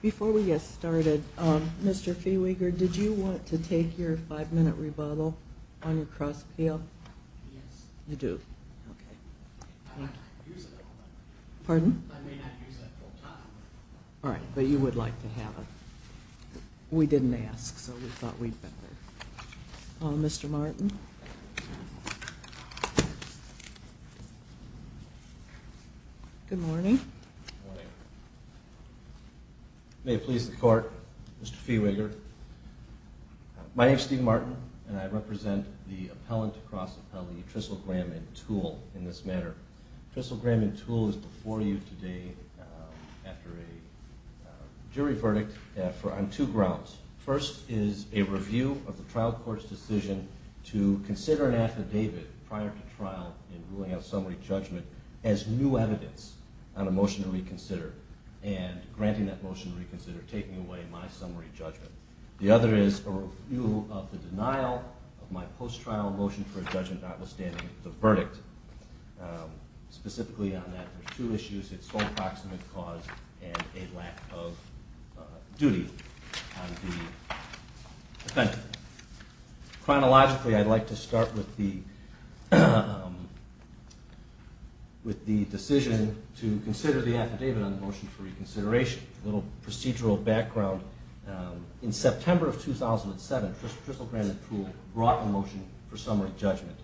Before we get started, Mr. Feeweger, did you want to take your five-minute rebuttal on your cross-appeal? Yes. You do? Okay. Pardon? I may not use that full-time. All right. But you would like to have it. We didn't ask, so we thought we'd better. Mr. Martin? Good morning. Good morning. May it please the Court, Mr. Feeweger, my name is Steve Martin and I represent the appellant cross-appellee Trissel, Graham & Toole in this matter. Trissel, Graham & Toole is before you today after a jury verdict on two grounds. First is a review of the trial court's decision to consider an affidavit prior to trial in ruling out summary judgment as new evidence on a motion to reconsider and granting that motion to reconsider, taking away my summary judgment. The other is a review of the denial of my post-trial motion for a judgment notwithstanding the verdict. Specifically on that, there are two issues, its full approximate cause and a lack of duty on the offender. Chronologically I'd like to start with the decision to consider the affidavit on the trial court's decision to reconsider. A little procedural background. In September of 2007, Trissel, Graham & Toole brought a motion for summary judgment.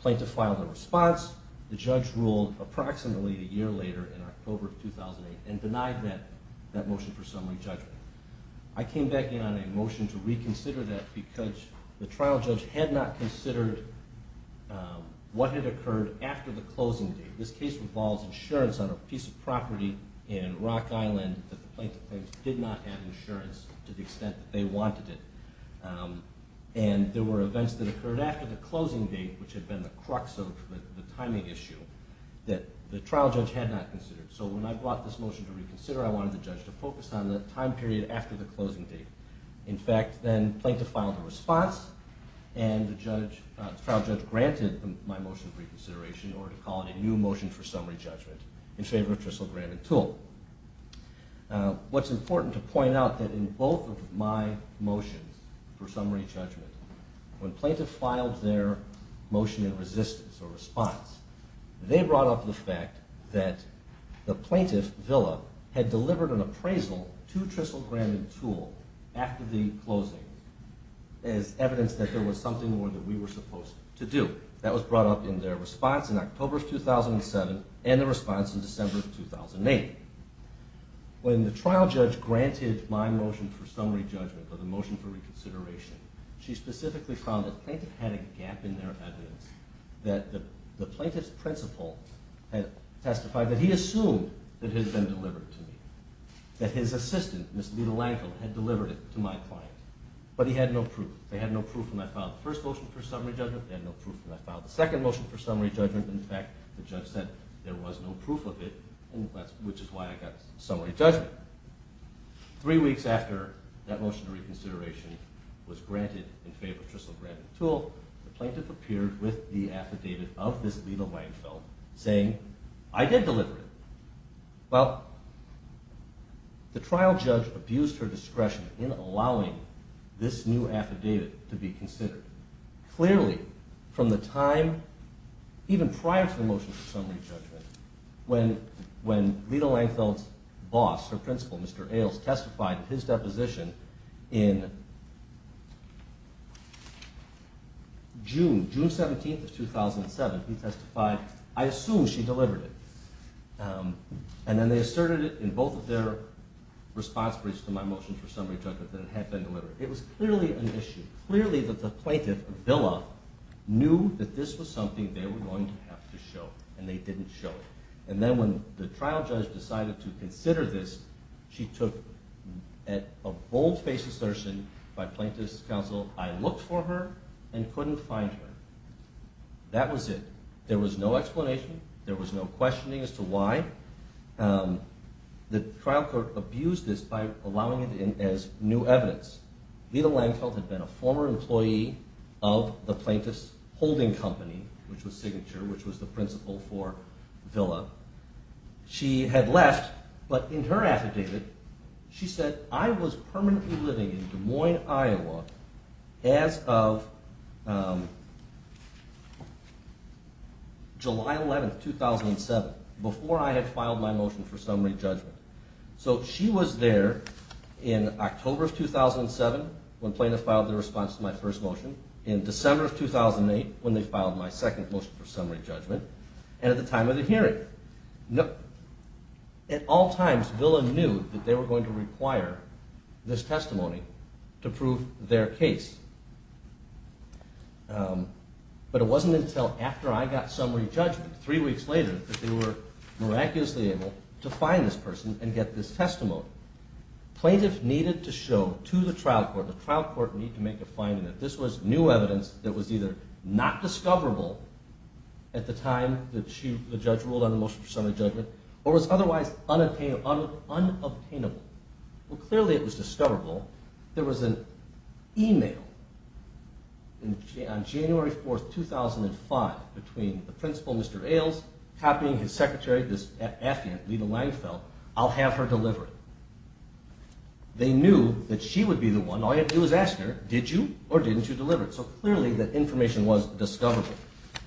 Plaintiff filed a response, the judge ruled approximately a year later in October of 2008 and denied that motion for summary judgment. I came back in on a motion to reconsider that because the trial judge had not considered what had occurred after the closing date. This case involves insurance on a piece of property in Rock Island that the plaintiff claims did not have insurance to the extent that they wanted it. And there were events that occurred after the closing date, which had been the crux of the timing issue, that the trial judge had not considered. So when I brought this motion to reconsider, I wanted the judge to focus on the time period after the closing date. In fact, then plaintiff filed a response and the trial judge granted my motion for reconsideration in order to call it a new motion for summary judgment in favor of Trissel, Graham & Toole. What's important to point out that in both of my motions for summary judgment, when plaintiff filed their motion in resistance or response, they brought up the fact that the plaintiff, Villa, had delivered an appraisal to Trissel, Graham & Toole after the closing as evidence that there was something more that we were supposed to do. That was brought up in their response in October of 2007 and the response in December of 2008. When the trial judge granted my motion for summary judgment, or the motion for reconsideration, she specifically found that the plaintiff had a gap in their evidence, that the plaintiff's principal had testified that he assumed that it had been delivered to me, that his assistant, Ms. Lita Langfield, had delivered it to my client. But he had no proof. They had no proof when I filed the first motion for summary judgment. They had no proof when I filed the second motion for summary judgment. In fact, the judge said there was no proof of it, which is why I got summary judgment. Three weeks after that motion for reconsideration was granted in favor of Trissel, Graham & Toole, the plaintiff appeared with the affidavit of Ms. Lita Langfield saying, I did deliver it. Well, the trial judge abused her discretion in allowing this new affidavit to be considered. Clearly, from the time even prior to the motion for summary judgment, when Lita Langfield's boss, her principal, Mr. Ailes, testified in his deposition in June, June 17th of 2007, he testified, I assume she delivered it. And then they asserted it in both of their response briefs to my motion for summary judgment that it had been delivered. It was clearly an issue, clearly that the plaintiff, Villa, knew that this was something they were going to have to show, and they didn't show it. And then when the trial judge decided to consider this, she took a bold-faced assertion by plaintiff's counsel, I looked for her and couldn't find her. That was it. There was no explanation, there was no questioning as to why. The trial court abused this by allowing it in as new evidence. Lita Langfield had been a former employee of the plaintiff's holding company, which was Signature, which was the principal for Villa. She had left, but in her affidavit, she said, I was permanently living in Des Moines, Iowa as of July 11th, 2007, before I had filed my motion for summary judgment. So she was there in October of 2007 when plaintiffs filed their response to my first motion, in December of 2008 when they filed my second motion for summary judgment, At all times, Villa knew that they were going to require this testimony to prove their case. But it wasn't until after I got summary judgment, three weeks later, that they were miraculously able to find this person and get this testimony. Plaintiffs needed to show to the trial court, the trial court needed to make a finding that this was new evidence that was either not discoverable at the time that the judge ruled on the motion for summary judgment, or was otherwise unobtainable. Well, clearly it was discoverable. There was an email on January 4th, 2005, between the principal, Mr. Ailes, copying his secretary, this affidavit, Lita Langfield, I'll have her deliver it. They knew that she would be the one. All you had to do was ask her, did you or didn't you deliver it? So clearly that information was discoverable.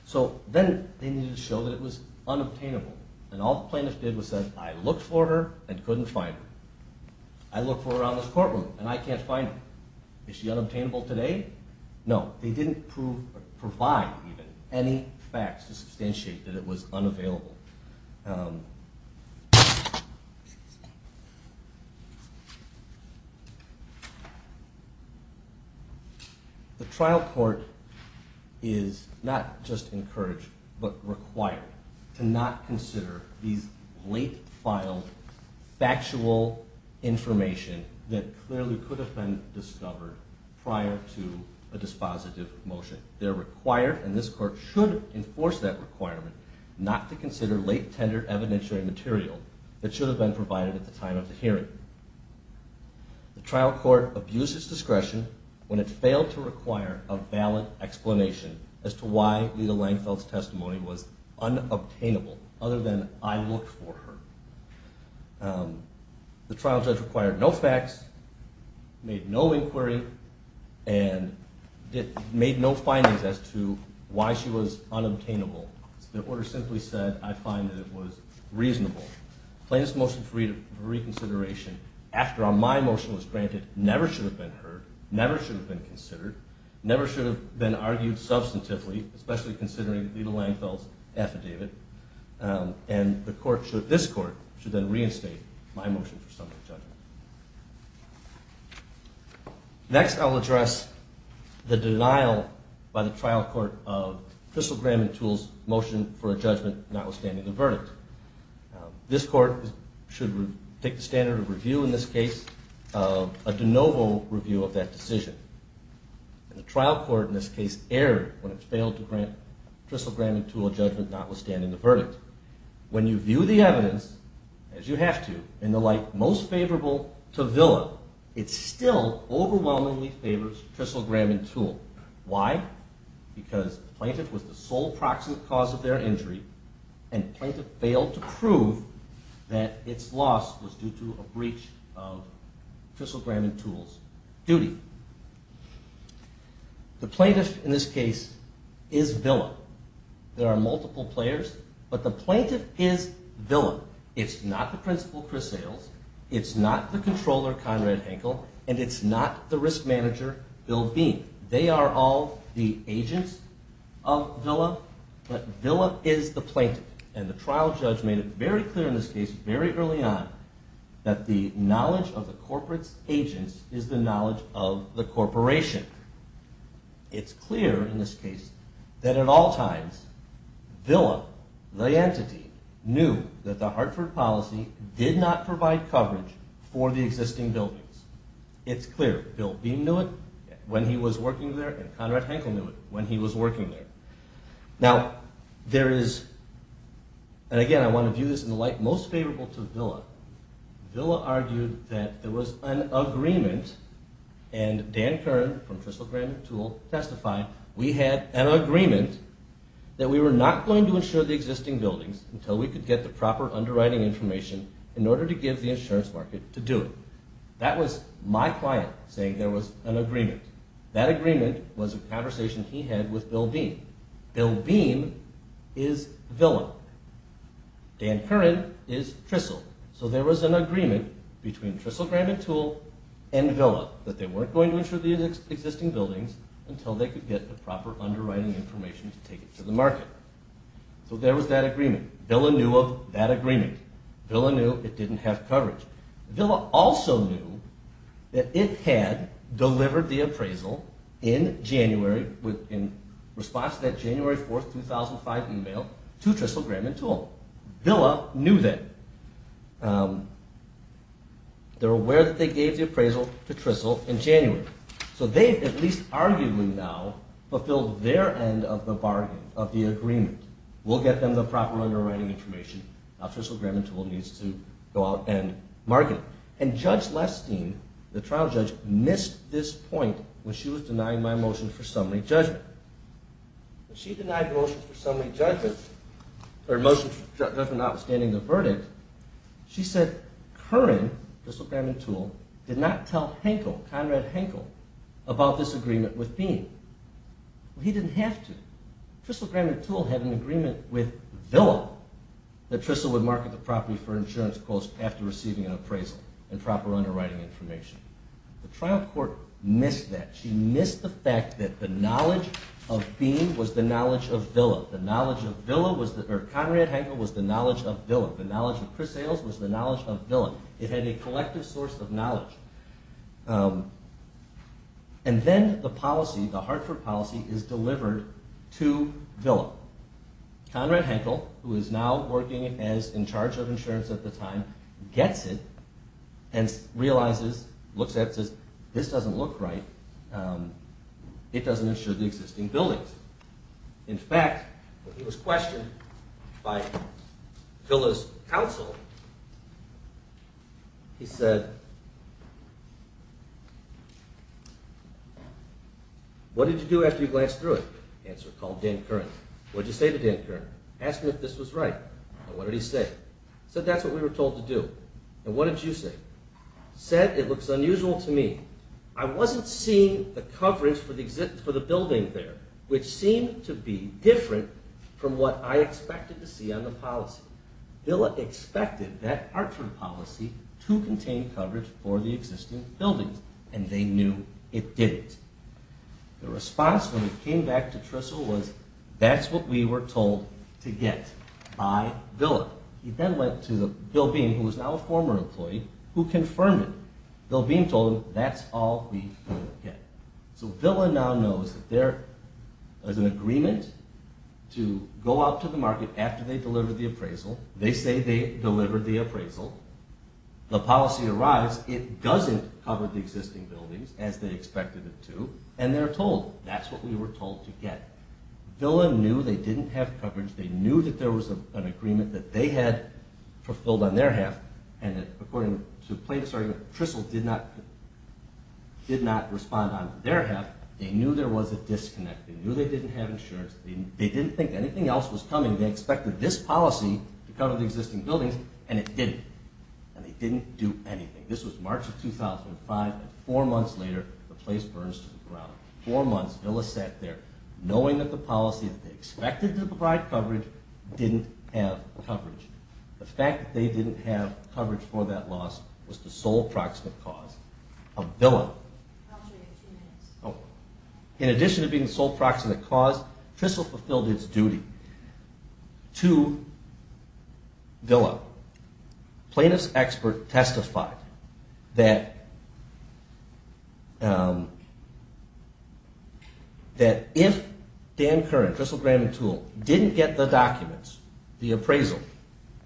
So then they needed to show that it was unobtainable. And all the plaintiffs did was say, I looked for her and couldn't find her. I looked for her around this courtroom and I can't find her. Is she unobtainable today? No. They didn't provide even any facts to substantiate that it was unavailable. The trial court is not just encouraged but required to not consider these late-filed factual information that clearly could have been discovered prior to a dispositive motion. And this court should enforce that requirement not to consider late, tender evidentiary material that should have been provided at the time of the hearing. The trial court abused its discretion when it failed to require a valid explanation as to why Lita Langfield's testimony was unobtainable other than I looked for her. The trial judge required no facts, made no inquiry, and made no findings as to why she was unobtainable. The order simply said, I find that it was reasonable. Plaintiff's motion for reconsideration, after my motion was granted, never should have been heard, never should have been considered, never should have been argued substantively, especially considering Lita Langfield's affidavit. And this court should then reinstate my motion for summary judgment. Next, I'll address the denial by the trial court of Crystal Graham and Toole's motion for a judgment notwithstanding the verdict. This court should take the standard of review in this case, a de novo review of that decision. The trial court in this case erred when it failed to grant Crystal Graham and Toole a judgment notwithstanding the verdict. When you view the evidence, as you have to, in the light most favorable to Villa, it still overwhelmingly favors Crystal Graham and Toole. Why? Because the plaintiff was the sole proximate cause of their injury, and the plaintiff failed to prove that its loss was due to a breach of Crystal Graham and Toole's duty. The plaintiff in this case is Villa. There are multiple players, but the plaintiff is Villa. It's not the principal Chris Sayles, it's not the controller Conrad Henkel, and it's not the risk manager Bill Bean. They are all the agents of Villa, but Villa is the plaintiff. And the trial judge made it very clear in this case, very early on, that the knowledge of the corporate agents is the knowledge of the corporation. It's clear in this case that at all times Villa, the entity, knew that the Hartford policy did not provide coverage for the existing buildings. It's clear. Bill Bean knew it when he was working there, and Conrad Henkel knew it when he was working there. Now there is, and again I want to view this in the light most favorable to Villa. Villa argued that there was an agreement, and Dan Kern from Crystal Graham and Toole testified, we had an agreement that we were not going to insure the existing buildings until we could get the proper underwriting information in order to give the insurance market to do it. That was my client saying there was an agreement. That agreement was a conversation he had with Bill Bean. Bill Bean is Villa. Dan Kern is Crystal. So there was an agreement between Crystal Graham and Toole and Villa, that they weren't going to insure the existing buildings until they could get the proper underwriting information to take it to the market. So there was that agreement. Villa knew of that agreement. Villa knew it didn't have coverage. Villa also knew that it had delivered the appraisal in January, in response to that January 4, 2005 email to Crystal Graham and Toole. Villa knew that. They were aware that they gave the appraisal to Crystal in January. So they at least arguably now fulfilled their end of the bargain, of the agreement. We'll get them the proper underwriting information. Now Crystal Graham and Toole needs to go out and bargain. And Judge Lestine, the trial judge, missed this point when she was denying my motion for summary judgment. When she denied the motion for summary judgment, or motion for judgment notwithstanding the verdict, she said Kern, Crystal Graham and Toole, did not tell Henkel, Conrad Henkel, about this agreement with Bean. He didn't have to. Crystal Graham and Toole had an agreement with Villa that Crystal would market the property for insurance costs after receiving an appraisal and proper underwriting information. The trial court missed that. She missed the fact that the knowledge of Bean was the knowledge of Villa. Conrad Henkel was the knowledge of Villa. The knowledge of Cris Hales was the knowledge of Villa. It had a collective source of knowledge. And then the policy, the Hartford policy, is delivered to Villa. Conrad Henkel, who is now working in charge of insurance at the time, gets it and realizes, looks at it and says, this doesn't look right. It doesn't insure the existing buildings. In fact, when he was questioned by Villa's counsel, he said, What did you do after you glanced through it? Answered, called Dan Kern. What did you say to Dan Kern? Asked him if this was right. What did he say? Said, that's what we were told to do. And what did you say? Said, it looks unusual to me. I wasn't seeing the coverage for the building there, which seemed to be different from what I expected to see on the policy. Villa expected that Hartford policy to contain coverage for the existing buildings, and they knew it didn't. The response when it came back to Tristle was, that's what we were told to get by Villa. He then went to Bill Bean, who was now a former employee, who confirmed it. Bill Bean told him, that's all we will get. So Villa now knows that there is an agreement to go out to the market after they deliver the appraisal. They say they delivered the appraisal. The policy arrives. It doesn't cover the existing buildings, as they expected it to, and they're told. That's what we were told to get. Villa knew they didn't have coverage. They knew that there was an agreement that they had fulfilled on their half, and that, according to the plaintiff's argument, Tristle did not respond on their half. They knew there was a disconnect. They knew they didn't have insurance. They didn't think anything else was coming. They expected this policy to cover the existing buildings, and it didn't. And they didn't do anything. This was March of 2005, and four months later, the place burns to the ground. Four months, Villa sat there, knowing that the policy that they expected to provide coverage didn't have coverage. The fact that they didn't have coverage for that loss was the sole proximate cause of Villa. In addition to being the sole proximate cause, Tristle fulfilled its duty to Villa. Plaintiff's expert testified that if Dan Curran, Tristle Grandin Toole, didn't get the documents, the appraisal,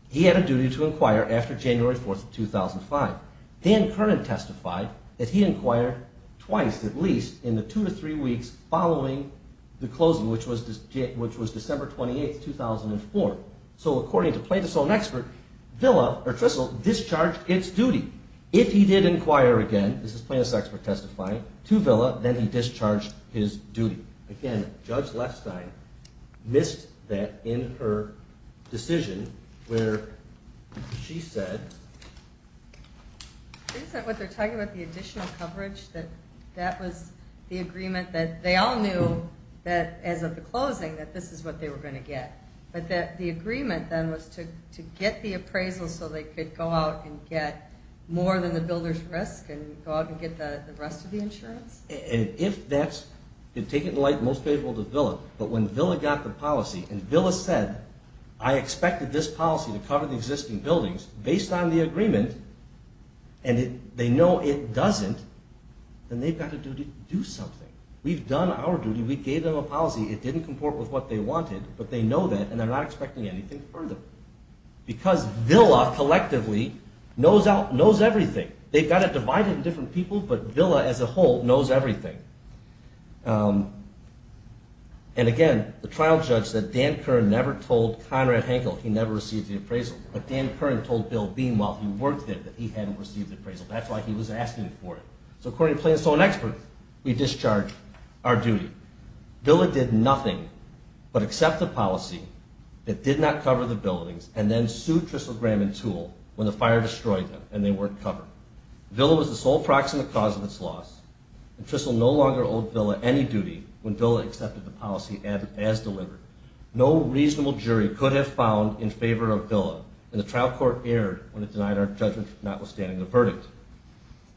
he had a duty to inquire after January 4, 2005. Dan Curran testified that he inquired twice, at least, in the two to three weeks following the closing, which was December 28, 2004. So, according to plaintiff's own expert, Tristle discharged its duty. If he did inquire again, this is plaintiff's expert testifying, to Villa, then he discharged his duty. Again, Judge Lepstein missed that in her decision, where she said... Is that what they're talking about, the additional coverage? That that was the agreement that they all knew that, as of the closing, that this is what they were going to get. But that the agreement, then, was to get the appraisal so they could go out and get more than the builder's risk, and go out and get the rest of the insurance? And if that's... Take it in light, most faithful to Villa. But when Villa got the policy, and Villa said, I expected this policy to cover the existing buildings, based on the agreement, and they know it doesn't, then they've got a duty to do something. We've done our duty. We gave them a policy. It didn't comport with what they wanted. But they know that, and they're not expecting anything further. Because Villa, collectively, knows everything. They've got to divide it in different people, but Villa, as a whole, knows everything. And again, the trial judge said Dan Kern never told Conrad Hankel he never received the appraisal. But Dan Kern told Bill Bean, while he worked there, that he hadn't received the appraisal. That's why he was asking for it. So according to plaintiff's own expert, we discharged our duty. Villa did nothing but accept the policy that did not cover the buildings, and then sued Tristle, Graham, and Toole when the fire destroyed them, and they weren't covered. Villa was the sole proximate cause of its loss, and Tristle no longer owed Villa any duty when Villa accepted the policy as delivered. No reasonable jury could have found in favor of Villa, and the trial court erred when it denied our judgment, notwithstanding the verdict.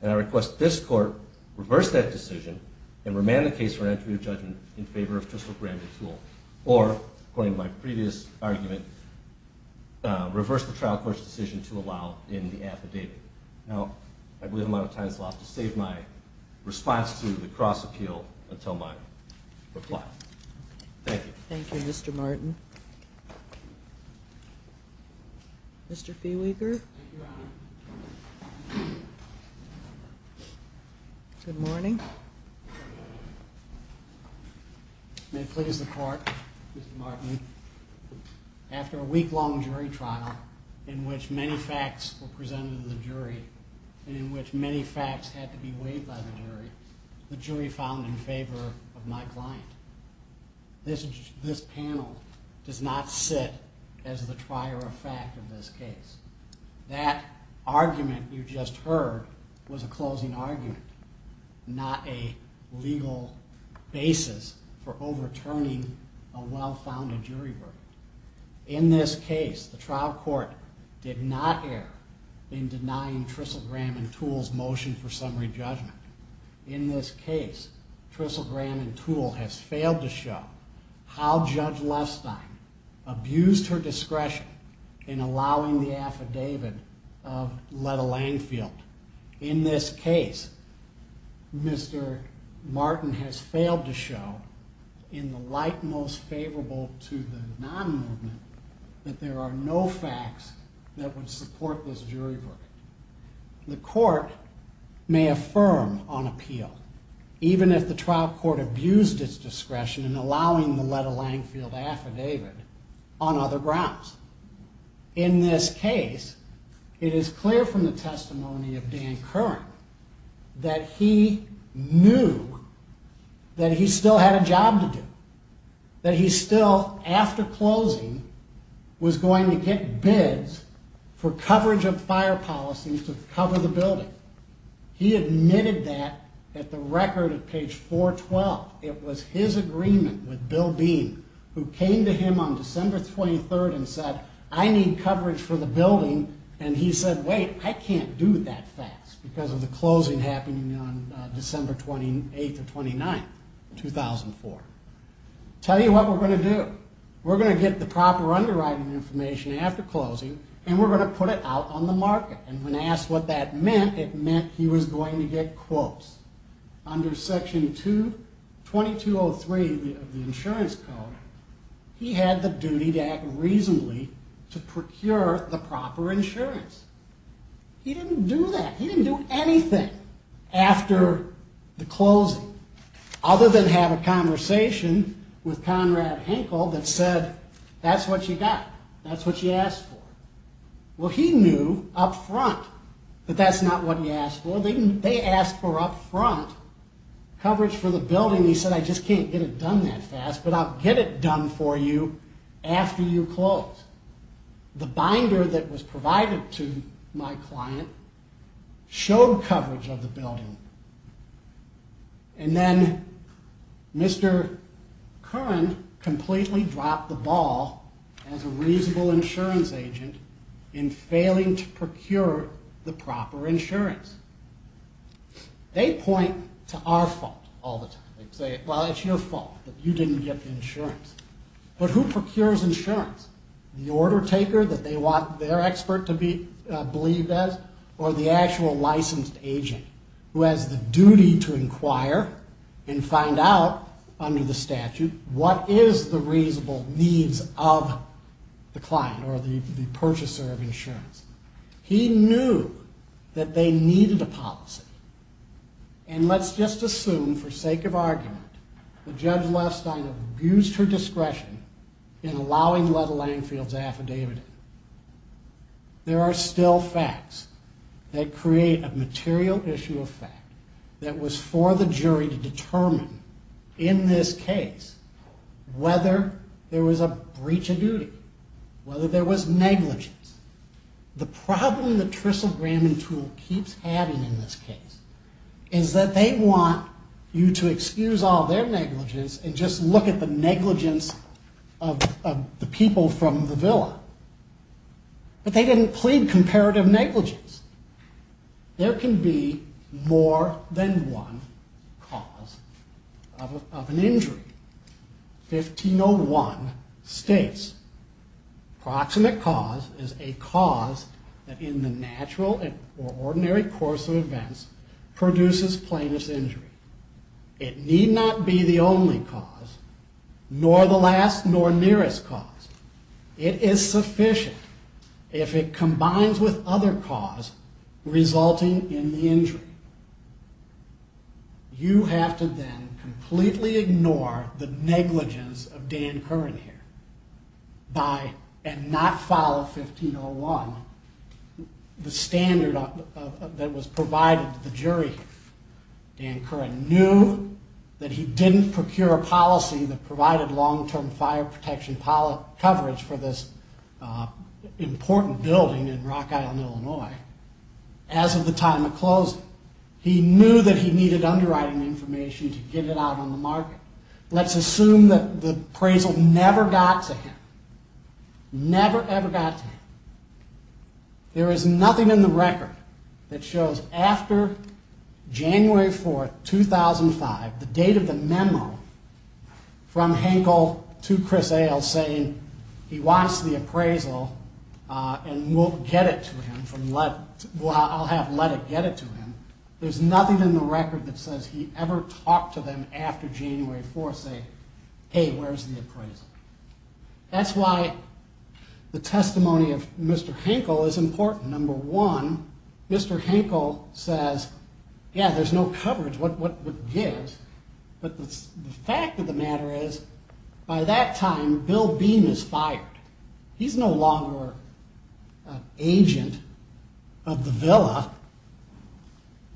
And I request this court reverse that decision and remand the case for an entry of judgment in favor of Tristle, Graham, and Toole, or, according to my previous argument, reverse the trial court's decision to allow in the affidavit. Now, I believe I'm out of time, so I'll have to save my response to the cross-appeal until my reply. Thank you. Thank you, Mr. Martin. Mr. Feeweeger? Thank you, Your Honor. Good morning. Good morning. May it please the court, Mr. Martin, after a week-long jury trial in which many facts were presented to the jury, and in which many facts had to be weighed by the jury, the jury found in favor of my client. This panel does not sit as the trier of fact of this case. That argument you just heard was a closing argument, not a legal basis for overturning a well-founded jury verdict. In this case, the trial court did not err in denying Tristle, Graham, and Toole's motion for summary judgment. In this case, Tristle, Graham, and Toole have failed to show how Judge Lestine abused her discretion in allowing the affidavit of Letta Lanfield. In this case, Mr. Martin has failed to show, in the light most favorable to the non-movement, that there are no facts that would support this jury verdict. The court may affirm on appeal, even if the trial court abused its discretion in allowing the Letta Lanfield affidavit on other grounds. In this case, it is clear from the testimony of Dan Curran that he knew that he still had a job to do, that he still, after closing, was going to get bids for coverage of fire policies to cover the building. He admitted that at the record at page 412. It was his agreement with Bill Bean, who came to him on December 23rd and said, I need coverage for the building, and he said, wait, I can't do that fast, because of the closing happening on December 28th or 29th, 2004. Tell you what we're going to do. We're going to get the proper underwriting information after closing, and we're going to put it out on the market. And when asked what that meant, it meant he was going to get quotes. Under section 2203 of the insurance code, he had the duty to act reasonably to procure the proper insurance. He didn't do that. He didn't do anything after the closing other than have a conversation with Conrad Henkel that said, that's what you got. That's what you asked for. Well, he knew up front that that's not what he asked for. They asked for up front coverage for the building, and he said, I just can't get it done that fast, but I'll get it done for you after you close. The binder that was provided to my client showed coverage of the building, and then Mr. Curran completely dropped the ball as a reasonable insurance agent in failing to procure the proper insurance. They point to our fault all the time. They say, well, it's your fault that you didn't get the insurance. But who procures insurance? The order taker that they want their expert to be believed as or the actual licensed agent who has the duty to inquire and find out under the statute what is the reasonable needs of the client or the purchaser of insurance. He knew that they needed a policy, and let's just assume for sake of argument that Judge Lestine abused her discretion in allowing Leta Langefield's affidavit. There are still facts that create a material issue of fact that was for the jury to determine in this case whether there was a breach of duty, whether there was negligence. The problem that Tristle Graham and Toole keeps having in this case is that they want you to excuse all their negligence and just look at the negligence of the people from the villa. But they didn't plead comparative negligence. There can be more than one cause of an injury. 1501 states, Proximate cause is a cause that in the natural or ordinary course of events produces plaintiff's injury. It need not be the only cause, nor the last nor nearest cause. It is sufficient if it combines with other cause resulting in the injury. You have to then completely ignore the negligence of Dan Curran here and not follow 1501, the standard that was provided to the jury. Dan Curran knew that he didn't procure a policy that provided long-term fire protection coverage for this important building in Rock Island, Illinois. As of the time it closed, he knew that he needed underwriting information to get it out on the market. Let's assume that the appraisal never got to him. Never, ever got to him. There is nothing in the record that shows after January 4, 2005, the date of the memo from Hankel to Chris Ailes saying he wants the appraisal and I'll have Lettick get it to him. There's nothing in the record that says he ever talked to them after January 4, saying, hey, where's the appraisal? That's why the testimony of Mr. Hankel is important. Number one, Mr. Hankel says, yeah, there's no coverage. What gives? But the fact of the matter is, by that time, Bill Beam is fired. He's no longer an agent of the Villa.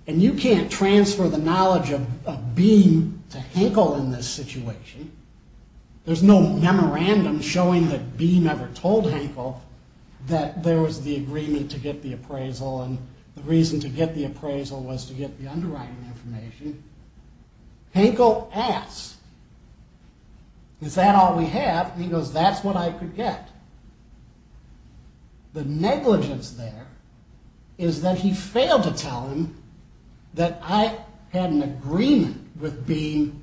And you can't transfer the knowledge of Beam to Hankel in this situation. There's no memorandum showing that Beam ever told Hankel that there was the agreement to get the appraisal and the reason to get the appraisal was to get the underwriting information. Hankel asks, is that all we have? And he goes, that's what I could get. The negligence there is that he failed to tell him that I had an agreement with Beam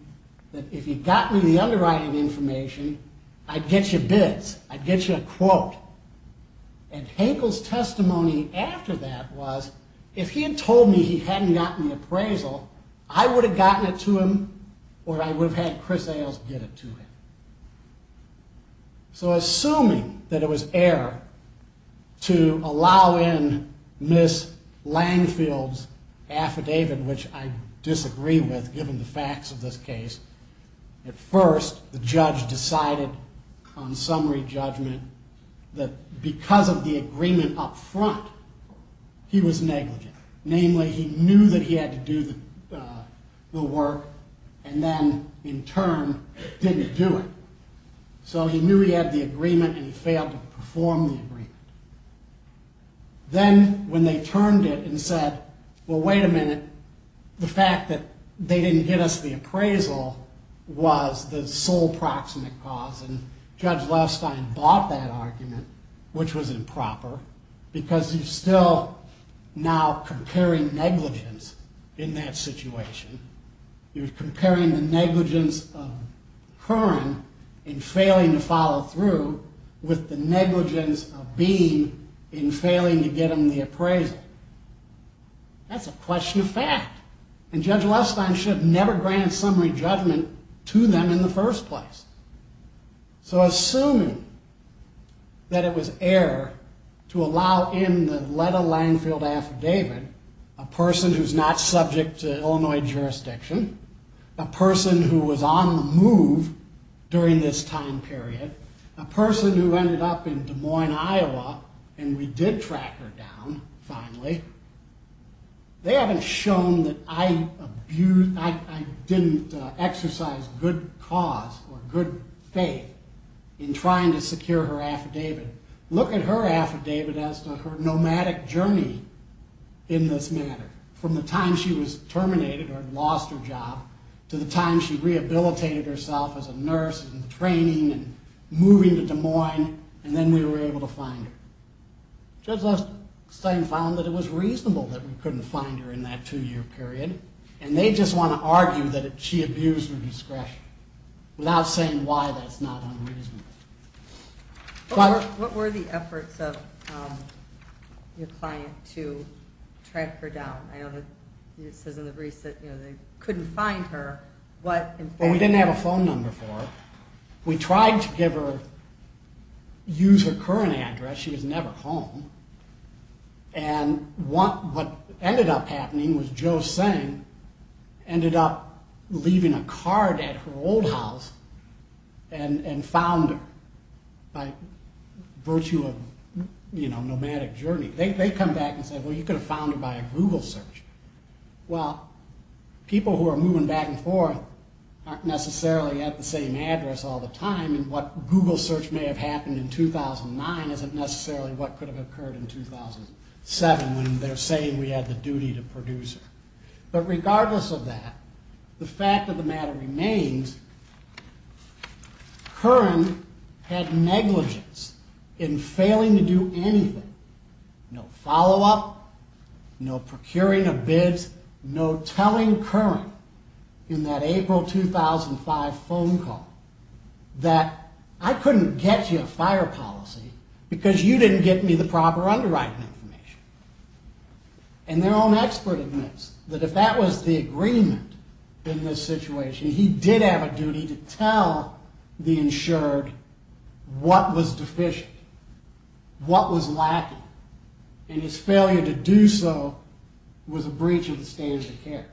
that if he got me the underwriting information, I'd get you bids. I'd get you a quote. And Hankel's testimony after that was, if he had told me he hadn't gotten the appraisal, I would have gotten it to him or I would have had Chris Ayles get it to him. So assuming that it was error to allow in Miss Langfield's affidavit, which I disagree with given the facts of this case, at first the judge decided on summary judgment that because of the agreement up front, he was negligent. Namely, he knew that he had to do the work and then in turn didn't do it. So he knew he had the agreement and he failed to perform the agreement. Then when they turned it and said, well, wait a minute, the fact that they didn't get us the appraisal was the sole proximate cause and Judge Levstein bought that argument, which was improper, because you're still now comparing negligence in that situation. You're comparing the negligence of Hearn in failing to follow through with the negligence of Beam in failing to get him the appraisal. That's a question of fact. And Judge Levstein should have never granted summary judgment to them in the first place. So assuming that it was error to allow in the Letta Langfield affidavit, a person who's not subject to Illinois jurisdiction, a person who was on the move during this time period, a person who ended up in Des Moines, Iowa, and we did track her down finally, they haven't shown that I didn't exercise good cause or good faith in trying to secure her affidavit. Look at her affidavit as to her nomadic journey in this matter, from the time she was terminated or lost her job to the time she rehabilitated herself as a nurse and training and moving to Des Moines, and then we were able to find her. Judge Levstein found that it was reasonable that we couldn't find her in that two-year period, and they just want to argue that she abused her discretion without saying why that's not unreasonable. What were the efforts of your client to track her down? It says in the briefs that they couldn't find her. Well, we didn't have a phone number for her. We tried to use her current address. She was never home. And what ended up happening was Joe Singh ended up leaving a card at her old house and found her by virtue of nomadic journey. They come back and say, well, you could have found her by a Google search. Well, people who are moving back and forth aren't necessarily at the same address all the time, and what Google search may have happened in 2009 isn't necessarily what could have occurred in 2007 when they're saying we had the duty to produce her. But regardless of that, the fact of the matter remains, Curran had negligence in failing to do anything, no follow-up, no procuring of bids, no telling Curran in that April 2005 phone call that I couldn't get you a fire policy because you didn't get me the proper underwriting information. And their own expert admits that if that was the agreement in this situation, he did have a duty to tell the insured what was deficient, what was lacking, and his failure to do so was a breach of the standards of care.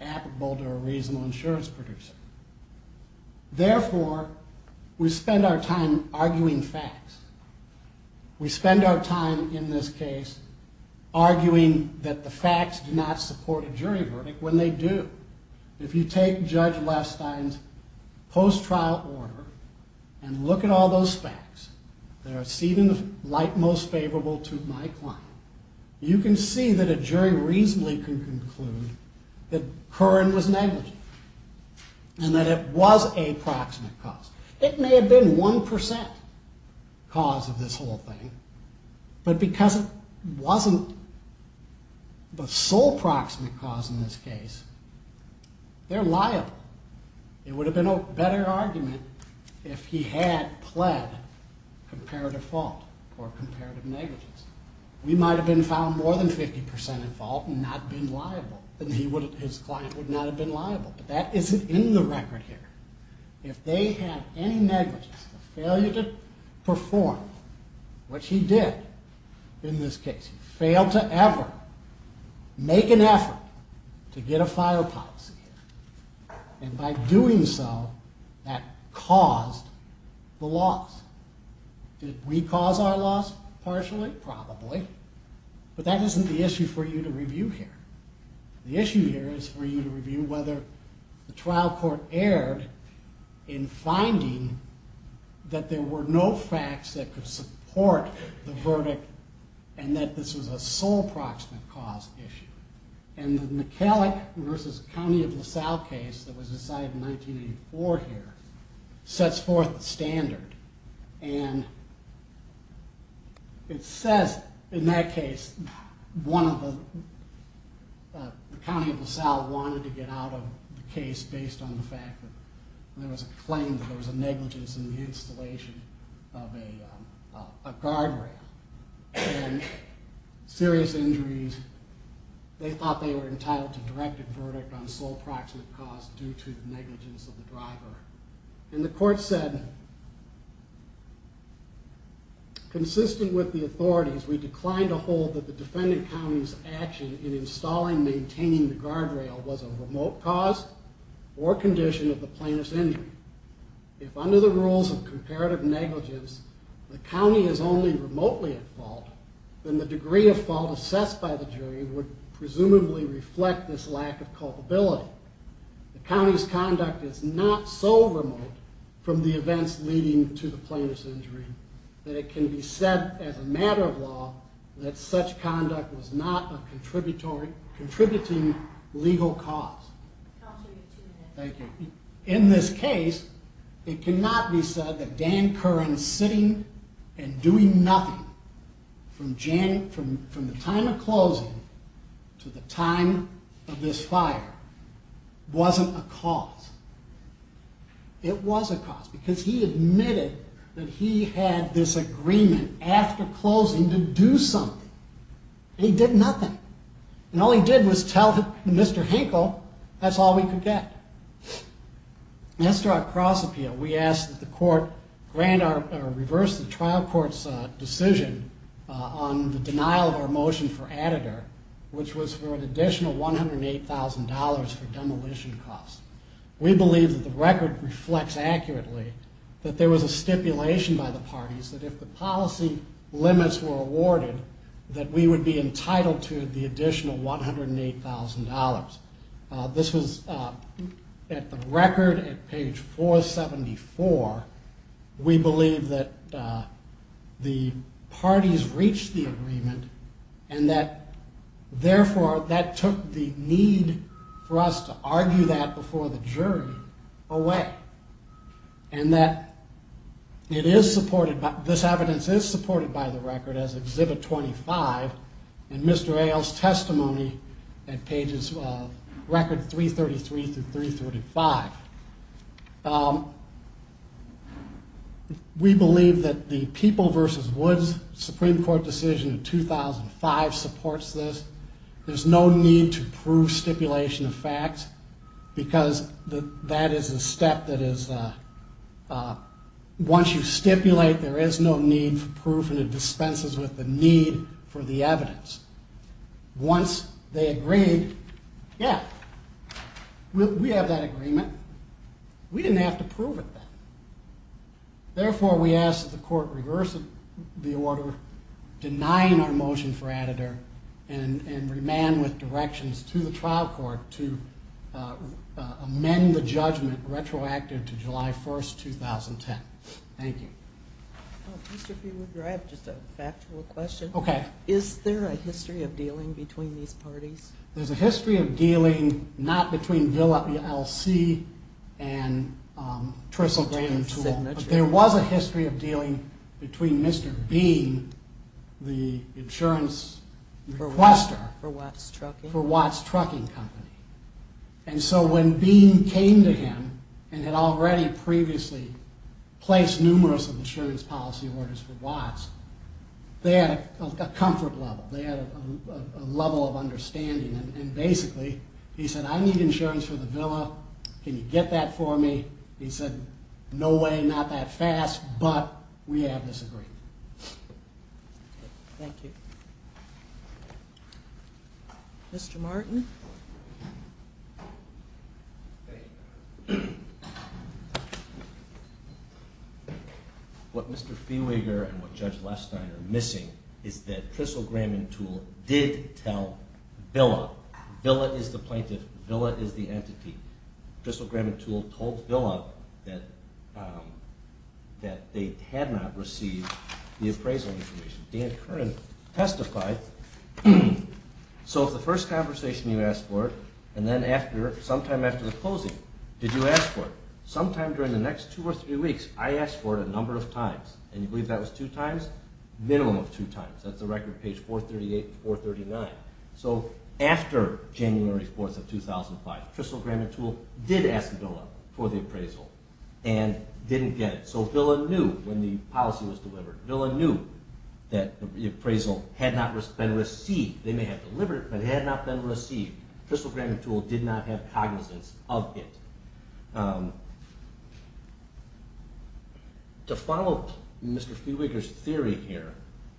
Apple Boulder, a reasonable insurance producer. Therefore, we spend our time arguing facts. We spend our time in this case arguing that the facts do not support a jury verdict when they do. If you take Judge Lestine's post-trial order and look at all those facts, there is even the light most favorable to my client, you can see that a jury reasonably can conclude that Curran was negligent and that it was a proximate cause. It may have been 1% cause of this whole thing, but because it wasn't the sole proximate cause in this case, they're liable. It would have been a better argument if he had pled comparative fault or comparative negligence. We might have been found more than 50% at fault and not been liable, and his client would not have been liable, but that isn't in the record here. If they have any negligence, a failure to perform what he did in this case, fail to ever make an effort to get a file policy, and by doing so, that caused the loss. Did we cause our loss? Partially? Probably. But that isn't the issue for you to review here. The issue here is for you to review whether the trial court erred in finding that there were no facts that could support the verdict and that this was a sole proximate cause issue. And the McCulloch versus County of LaSalle case that was decided in 1984 here sets forth the standard, and it says in that case the County of LaSalle wanted to get out of the case based on the fact that there was a claim that there was a negligence in the installation of a guardrail and serious injuries. They thought they were entitled to directed verdict on sole proximate cause due to negligence of the driver. And the court said, consistent with the authorities, we decline to hold that the defendant county's action in installing and maintaining the guardrail was a remote cause or condition of the plaintiff's injury. If under the rules of comparative negligence, the county is only remotely at fault, then the degree of fault assessed by the jury would presumably reflect this lack of culpability. The county's conduct is not so remote from the events leading to the plaintiff's injury that it can be said as a matter of law that such conduct was not a contributing legal cause. Thank you. In this case, it cannot be said that Dan Curran sitting and doing nothing from the time of closing to the time of this fire wasn't a cause. It was a cause because he admitted that he had this agreement after closing to do something, and he did nothing. And all he did was tell Mr. Hinkle that's all we could get. As to our cross appeal, we asked that the court reverse the trial court's decision on the denial of our motion for additor, which was for an additional $108,000 for demolition costs. We believe that the record reflects accurately that there was a stipulation by the parties that if the policy limits were awarded, that we would be entitled to the additional $108,000. This was at the record at page 474. We believe that the parties reached the agreement and that, therefore, that took the need for us to argue that before the jury away. And that this evidence is supported by the record as Exhibit 25 in Mr. Ailes' testimony at pages record 333 through 335. We believe that the People versus Woods Supreme Court decision in 2005 supports this. There's no need to prove stipulation of facts because that is a step that is once you stipulate, there is no need for proof and it dispenses with the need for the evidence. Once they agreed, yeah, we have that agreement. We didn't have to prove it then. Therefore, we ask that the court reverse the order denying our motion for additor and remand with directions to the trial court to amend the judgment retroactive to July 1st, 2010. Thank you. Mr. Feewood, I have just a factual question. Okay. Is there a history of dealing between these parties? There's a history of dealing not between Villa E.L.C. and Trissel Gravenstool. There was a history of dealing between Mr. Bean, the insurance requester. For Watts Trucking. For Watts Trucking Company. And so when Bean came to him and had already previously placed numerous insurance policy orders for Watts, they had a comfort level. They had a level of understanding. And basically, he said, I need insurance for the Villa. Can you get that for me? He said, no way, not that fast, but we have this agreement. Thank you. Mr. Martin. What Mr. Feeweeger and what Judge Lestine are missing is that Trissel Gravenstool did tell Villa. Villa is the plaintiff. Villa is the entity. Trissel Gravenstool told Villa that they had not received the appraisal information. Dan Curran testified. So the first conversation you asked for it, and then sometime after the closing, did you ask for it? Sometime during the next two or three weeks, I asked for it a number of times. And you believe that was two times? Minimum of two times. That's the record, page 438 and 439. So after January 4th of 2005, Trissel Gravenstool did ask Villa for the appraisal and didn't get it. So Villa knew when the policy was delivered. Villa knew that the appraisal had not been received. They may have delivered it, but it had not been received. Trissel Gravenstool did not have cognizance of it. To follow Mr. Feeweeger's theory here,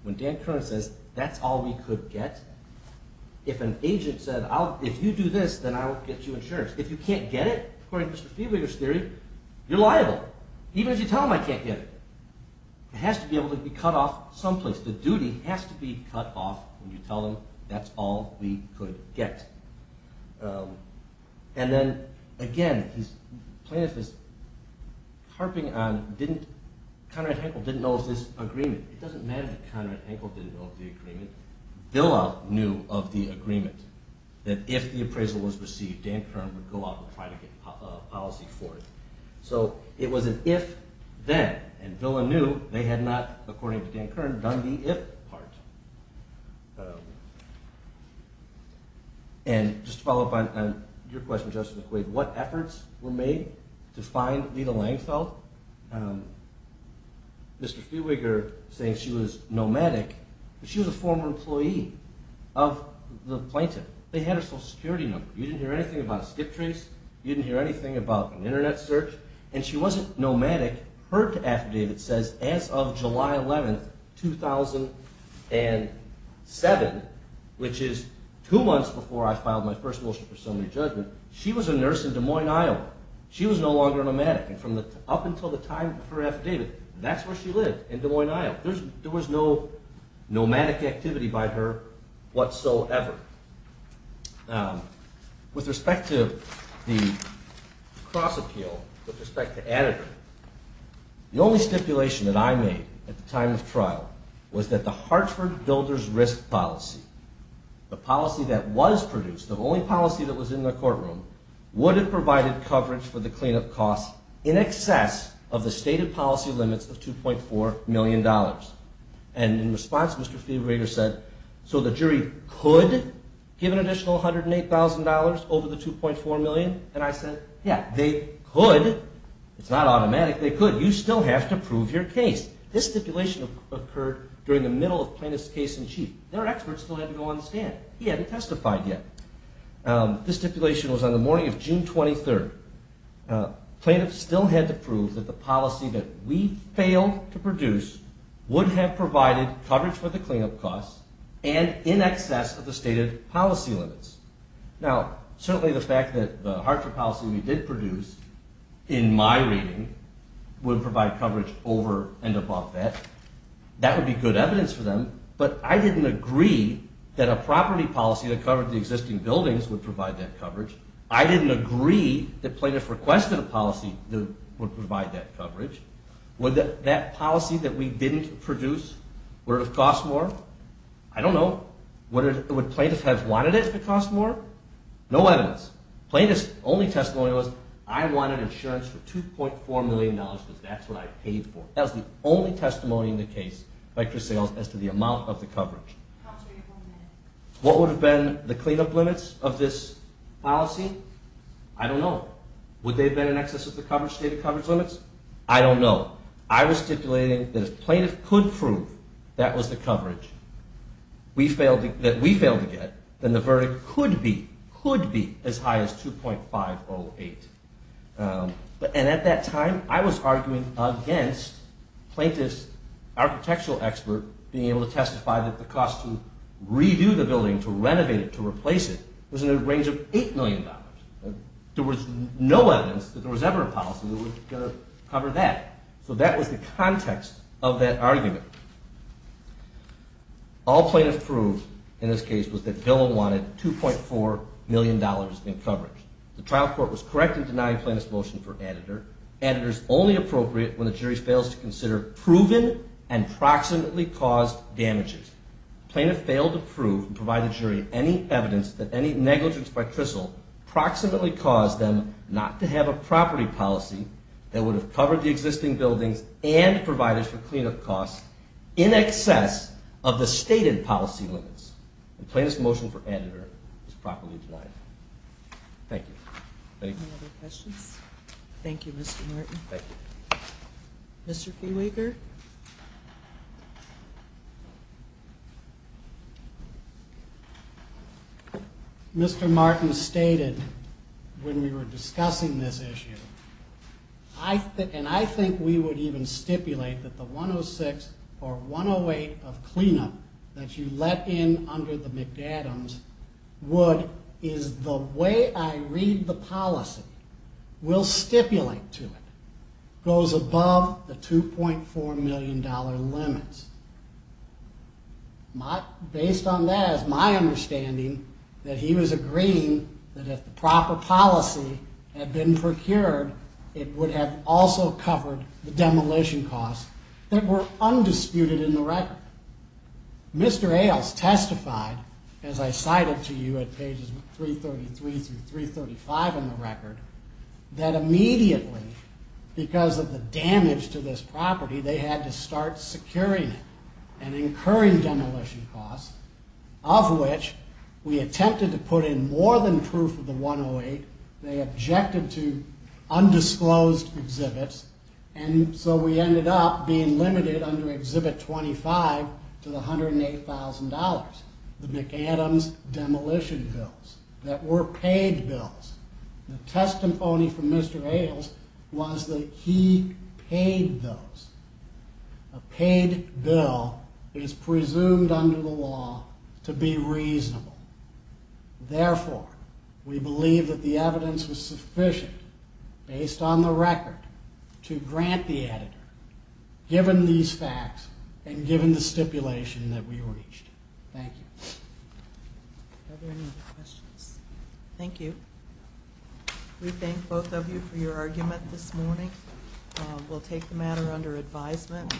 when Dan Curran says that's all we could get, if an agent said, if you do this, then I'll get you insurance. If you can't get it, according to Mr. Feeweeger's theory, you're liable. Even if you tell them I can't get it. It has to be able to be cut off someplace. The duty has to be cut off when you tell them that's all we could get. And then, again, Plaintiff is harping on Conrad Henkel didn't know of this agreement. It doesn't matter that Conrad Henkel didn't know of the agreement. Villa knew of the agreement, that if the appraisal was received, Dan Curran would go out and try to get policy for it. So it was an if, then. And Villa knew they had not, according to Dan Curran, done the if part. And just to follow up on your question, Justice McQuaid, what efforts were made to find Leta Langfeld? Mr. Feeweeger saying she was nomadic, but she was a former employee of the Plaintiff. They had her social security number. You didn't hear anything about a skip trace. You didn't hear anything about an internet search. And she wasn't nomadic. Her affidavit says as of July 11, 2007, which is two months before I filed my first motion for summary judgment, she was a nurse in Des Moines, Iowa. She was no longer a nomadic. And up until the time of her affidavit, that's where she lived, in Des Moines, Iowa. There was no nomadic activity by her whatsoever. Now, with respect to the cross appeal, with respect to adequate, the only stipulation that I made at the time of trial was that the Hartford Builders Risk Policy, the policy that was produced, the only policy that was in the courtroom, would have provided coverage for the cleanup costs in excess of the stated policy limits of $2.4 million. And in response, Mr. Feeweeger said, so the jury could give an additional $108,000 over the $2.4 million? And I said, yeah, they could. It's not automatic. They could. You still have to prove your case. This stipulation occurred during the middle of plaintiff's case in chief. Their expert still had to go on the stand. He hadn't testified yet. This stipulation was on the morning of June 23. Plaintiffs still had to prove that the policy that we failed to produce would have provided coverage for the cleanup costs and in excess of the stated policy limits. Now, certainly the fact that the Hartford policy we did produce, in my reading, would provide coverage over and above that, that would be good evidence for them. But I didn't agree that a property policy that covered the existing buildings would provide that coverage. I didn't agree that plaintiffs requested a policy that would provide that coverage. Would that policy that we didn't produce, would it have cost more? I don't know. Would plaintiffs have wanted it if it cost more? No evidence. Plaintiffs' only testimony was, I wanted insurance for $2.4 million because that's what I paid for. That was the only testimony in the case by Chris Sales as to the amount of the coverage. What would have been the cleanup limits of this policy? I don't know. Would they have been in excess of the stated coverage limits? I don't know. I was stipulating that if plaintiffs could prove that was the coverage that we failed to get, then the verdict could be as high as 2.508. And at that time, I was arguing against plaintiffs' architectural expert being able to testify that the cost to redo the building, to renovate it, to replace it, was in the range of $8 million. There was no evidence that there was ever a policy that was going to cover that. So that was the context of that argument. All plaintiffs proved in this case was that Dillon wanted $2.4 million in coverage. The trial court was correct in denying plaintiffs' motion for editor. Editor is only appropriate when the jury fails to consider proven and proximately caused damages. The plaintiff failed to prove and provide the jury any evidence that any negligence by Tristle proximately caused them not to have a property policy that would have covered the existing buildings and the providers for cleanup costs in excess of the stated policy limits. And plaintiffs' motion for editor was properly denied. Thank you. Any other questions? Thank you, Mr. Martin. Thank you. Mr. Feewaker? Mr. Martin stated when we were discussing this issue, and I think we would even stipulate that the 106 or 108 of cleanup that you let in under the McAdams would, is the way I read the policy, will stipulate to it, goes above the $2.4 million limits. Based on that, it's my understanding that he was agreeing that if the proper policy had been procured, it would have also covered the demolition costs that were undisputed in the record. Mr. Ailes testified, as I cited to you at pages 333 through 335 in the record, that immediately, because of the damage to this property, they had to start securing it and incurring demolition costs, of which we attempted to put in more than proof of the 108. They objected to undisclosed exhibits, and so we ended up being limited under Exhibit 25 to the $108,000, the McAdams demolition bills that were paid bills. The testimony from Mr. Ailes was that he paid those. A paid bill is presumed under the law to be reasonable. Therefore, we believe that the evidence was sufficient, based on the record, to grant the editor, given these facts and given the stipulation that we reached. Thank you. Are there any other questions? Thank you. We thank both of you for your argument this morning. We'll take the matter under advisement.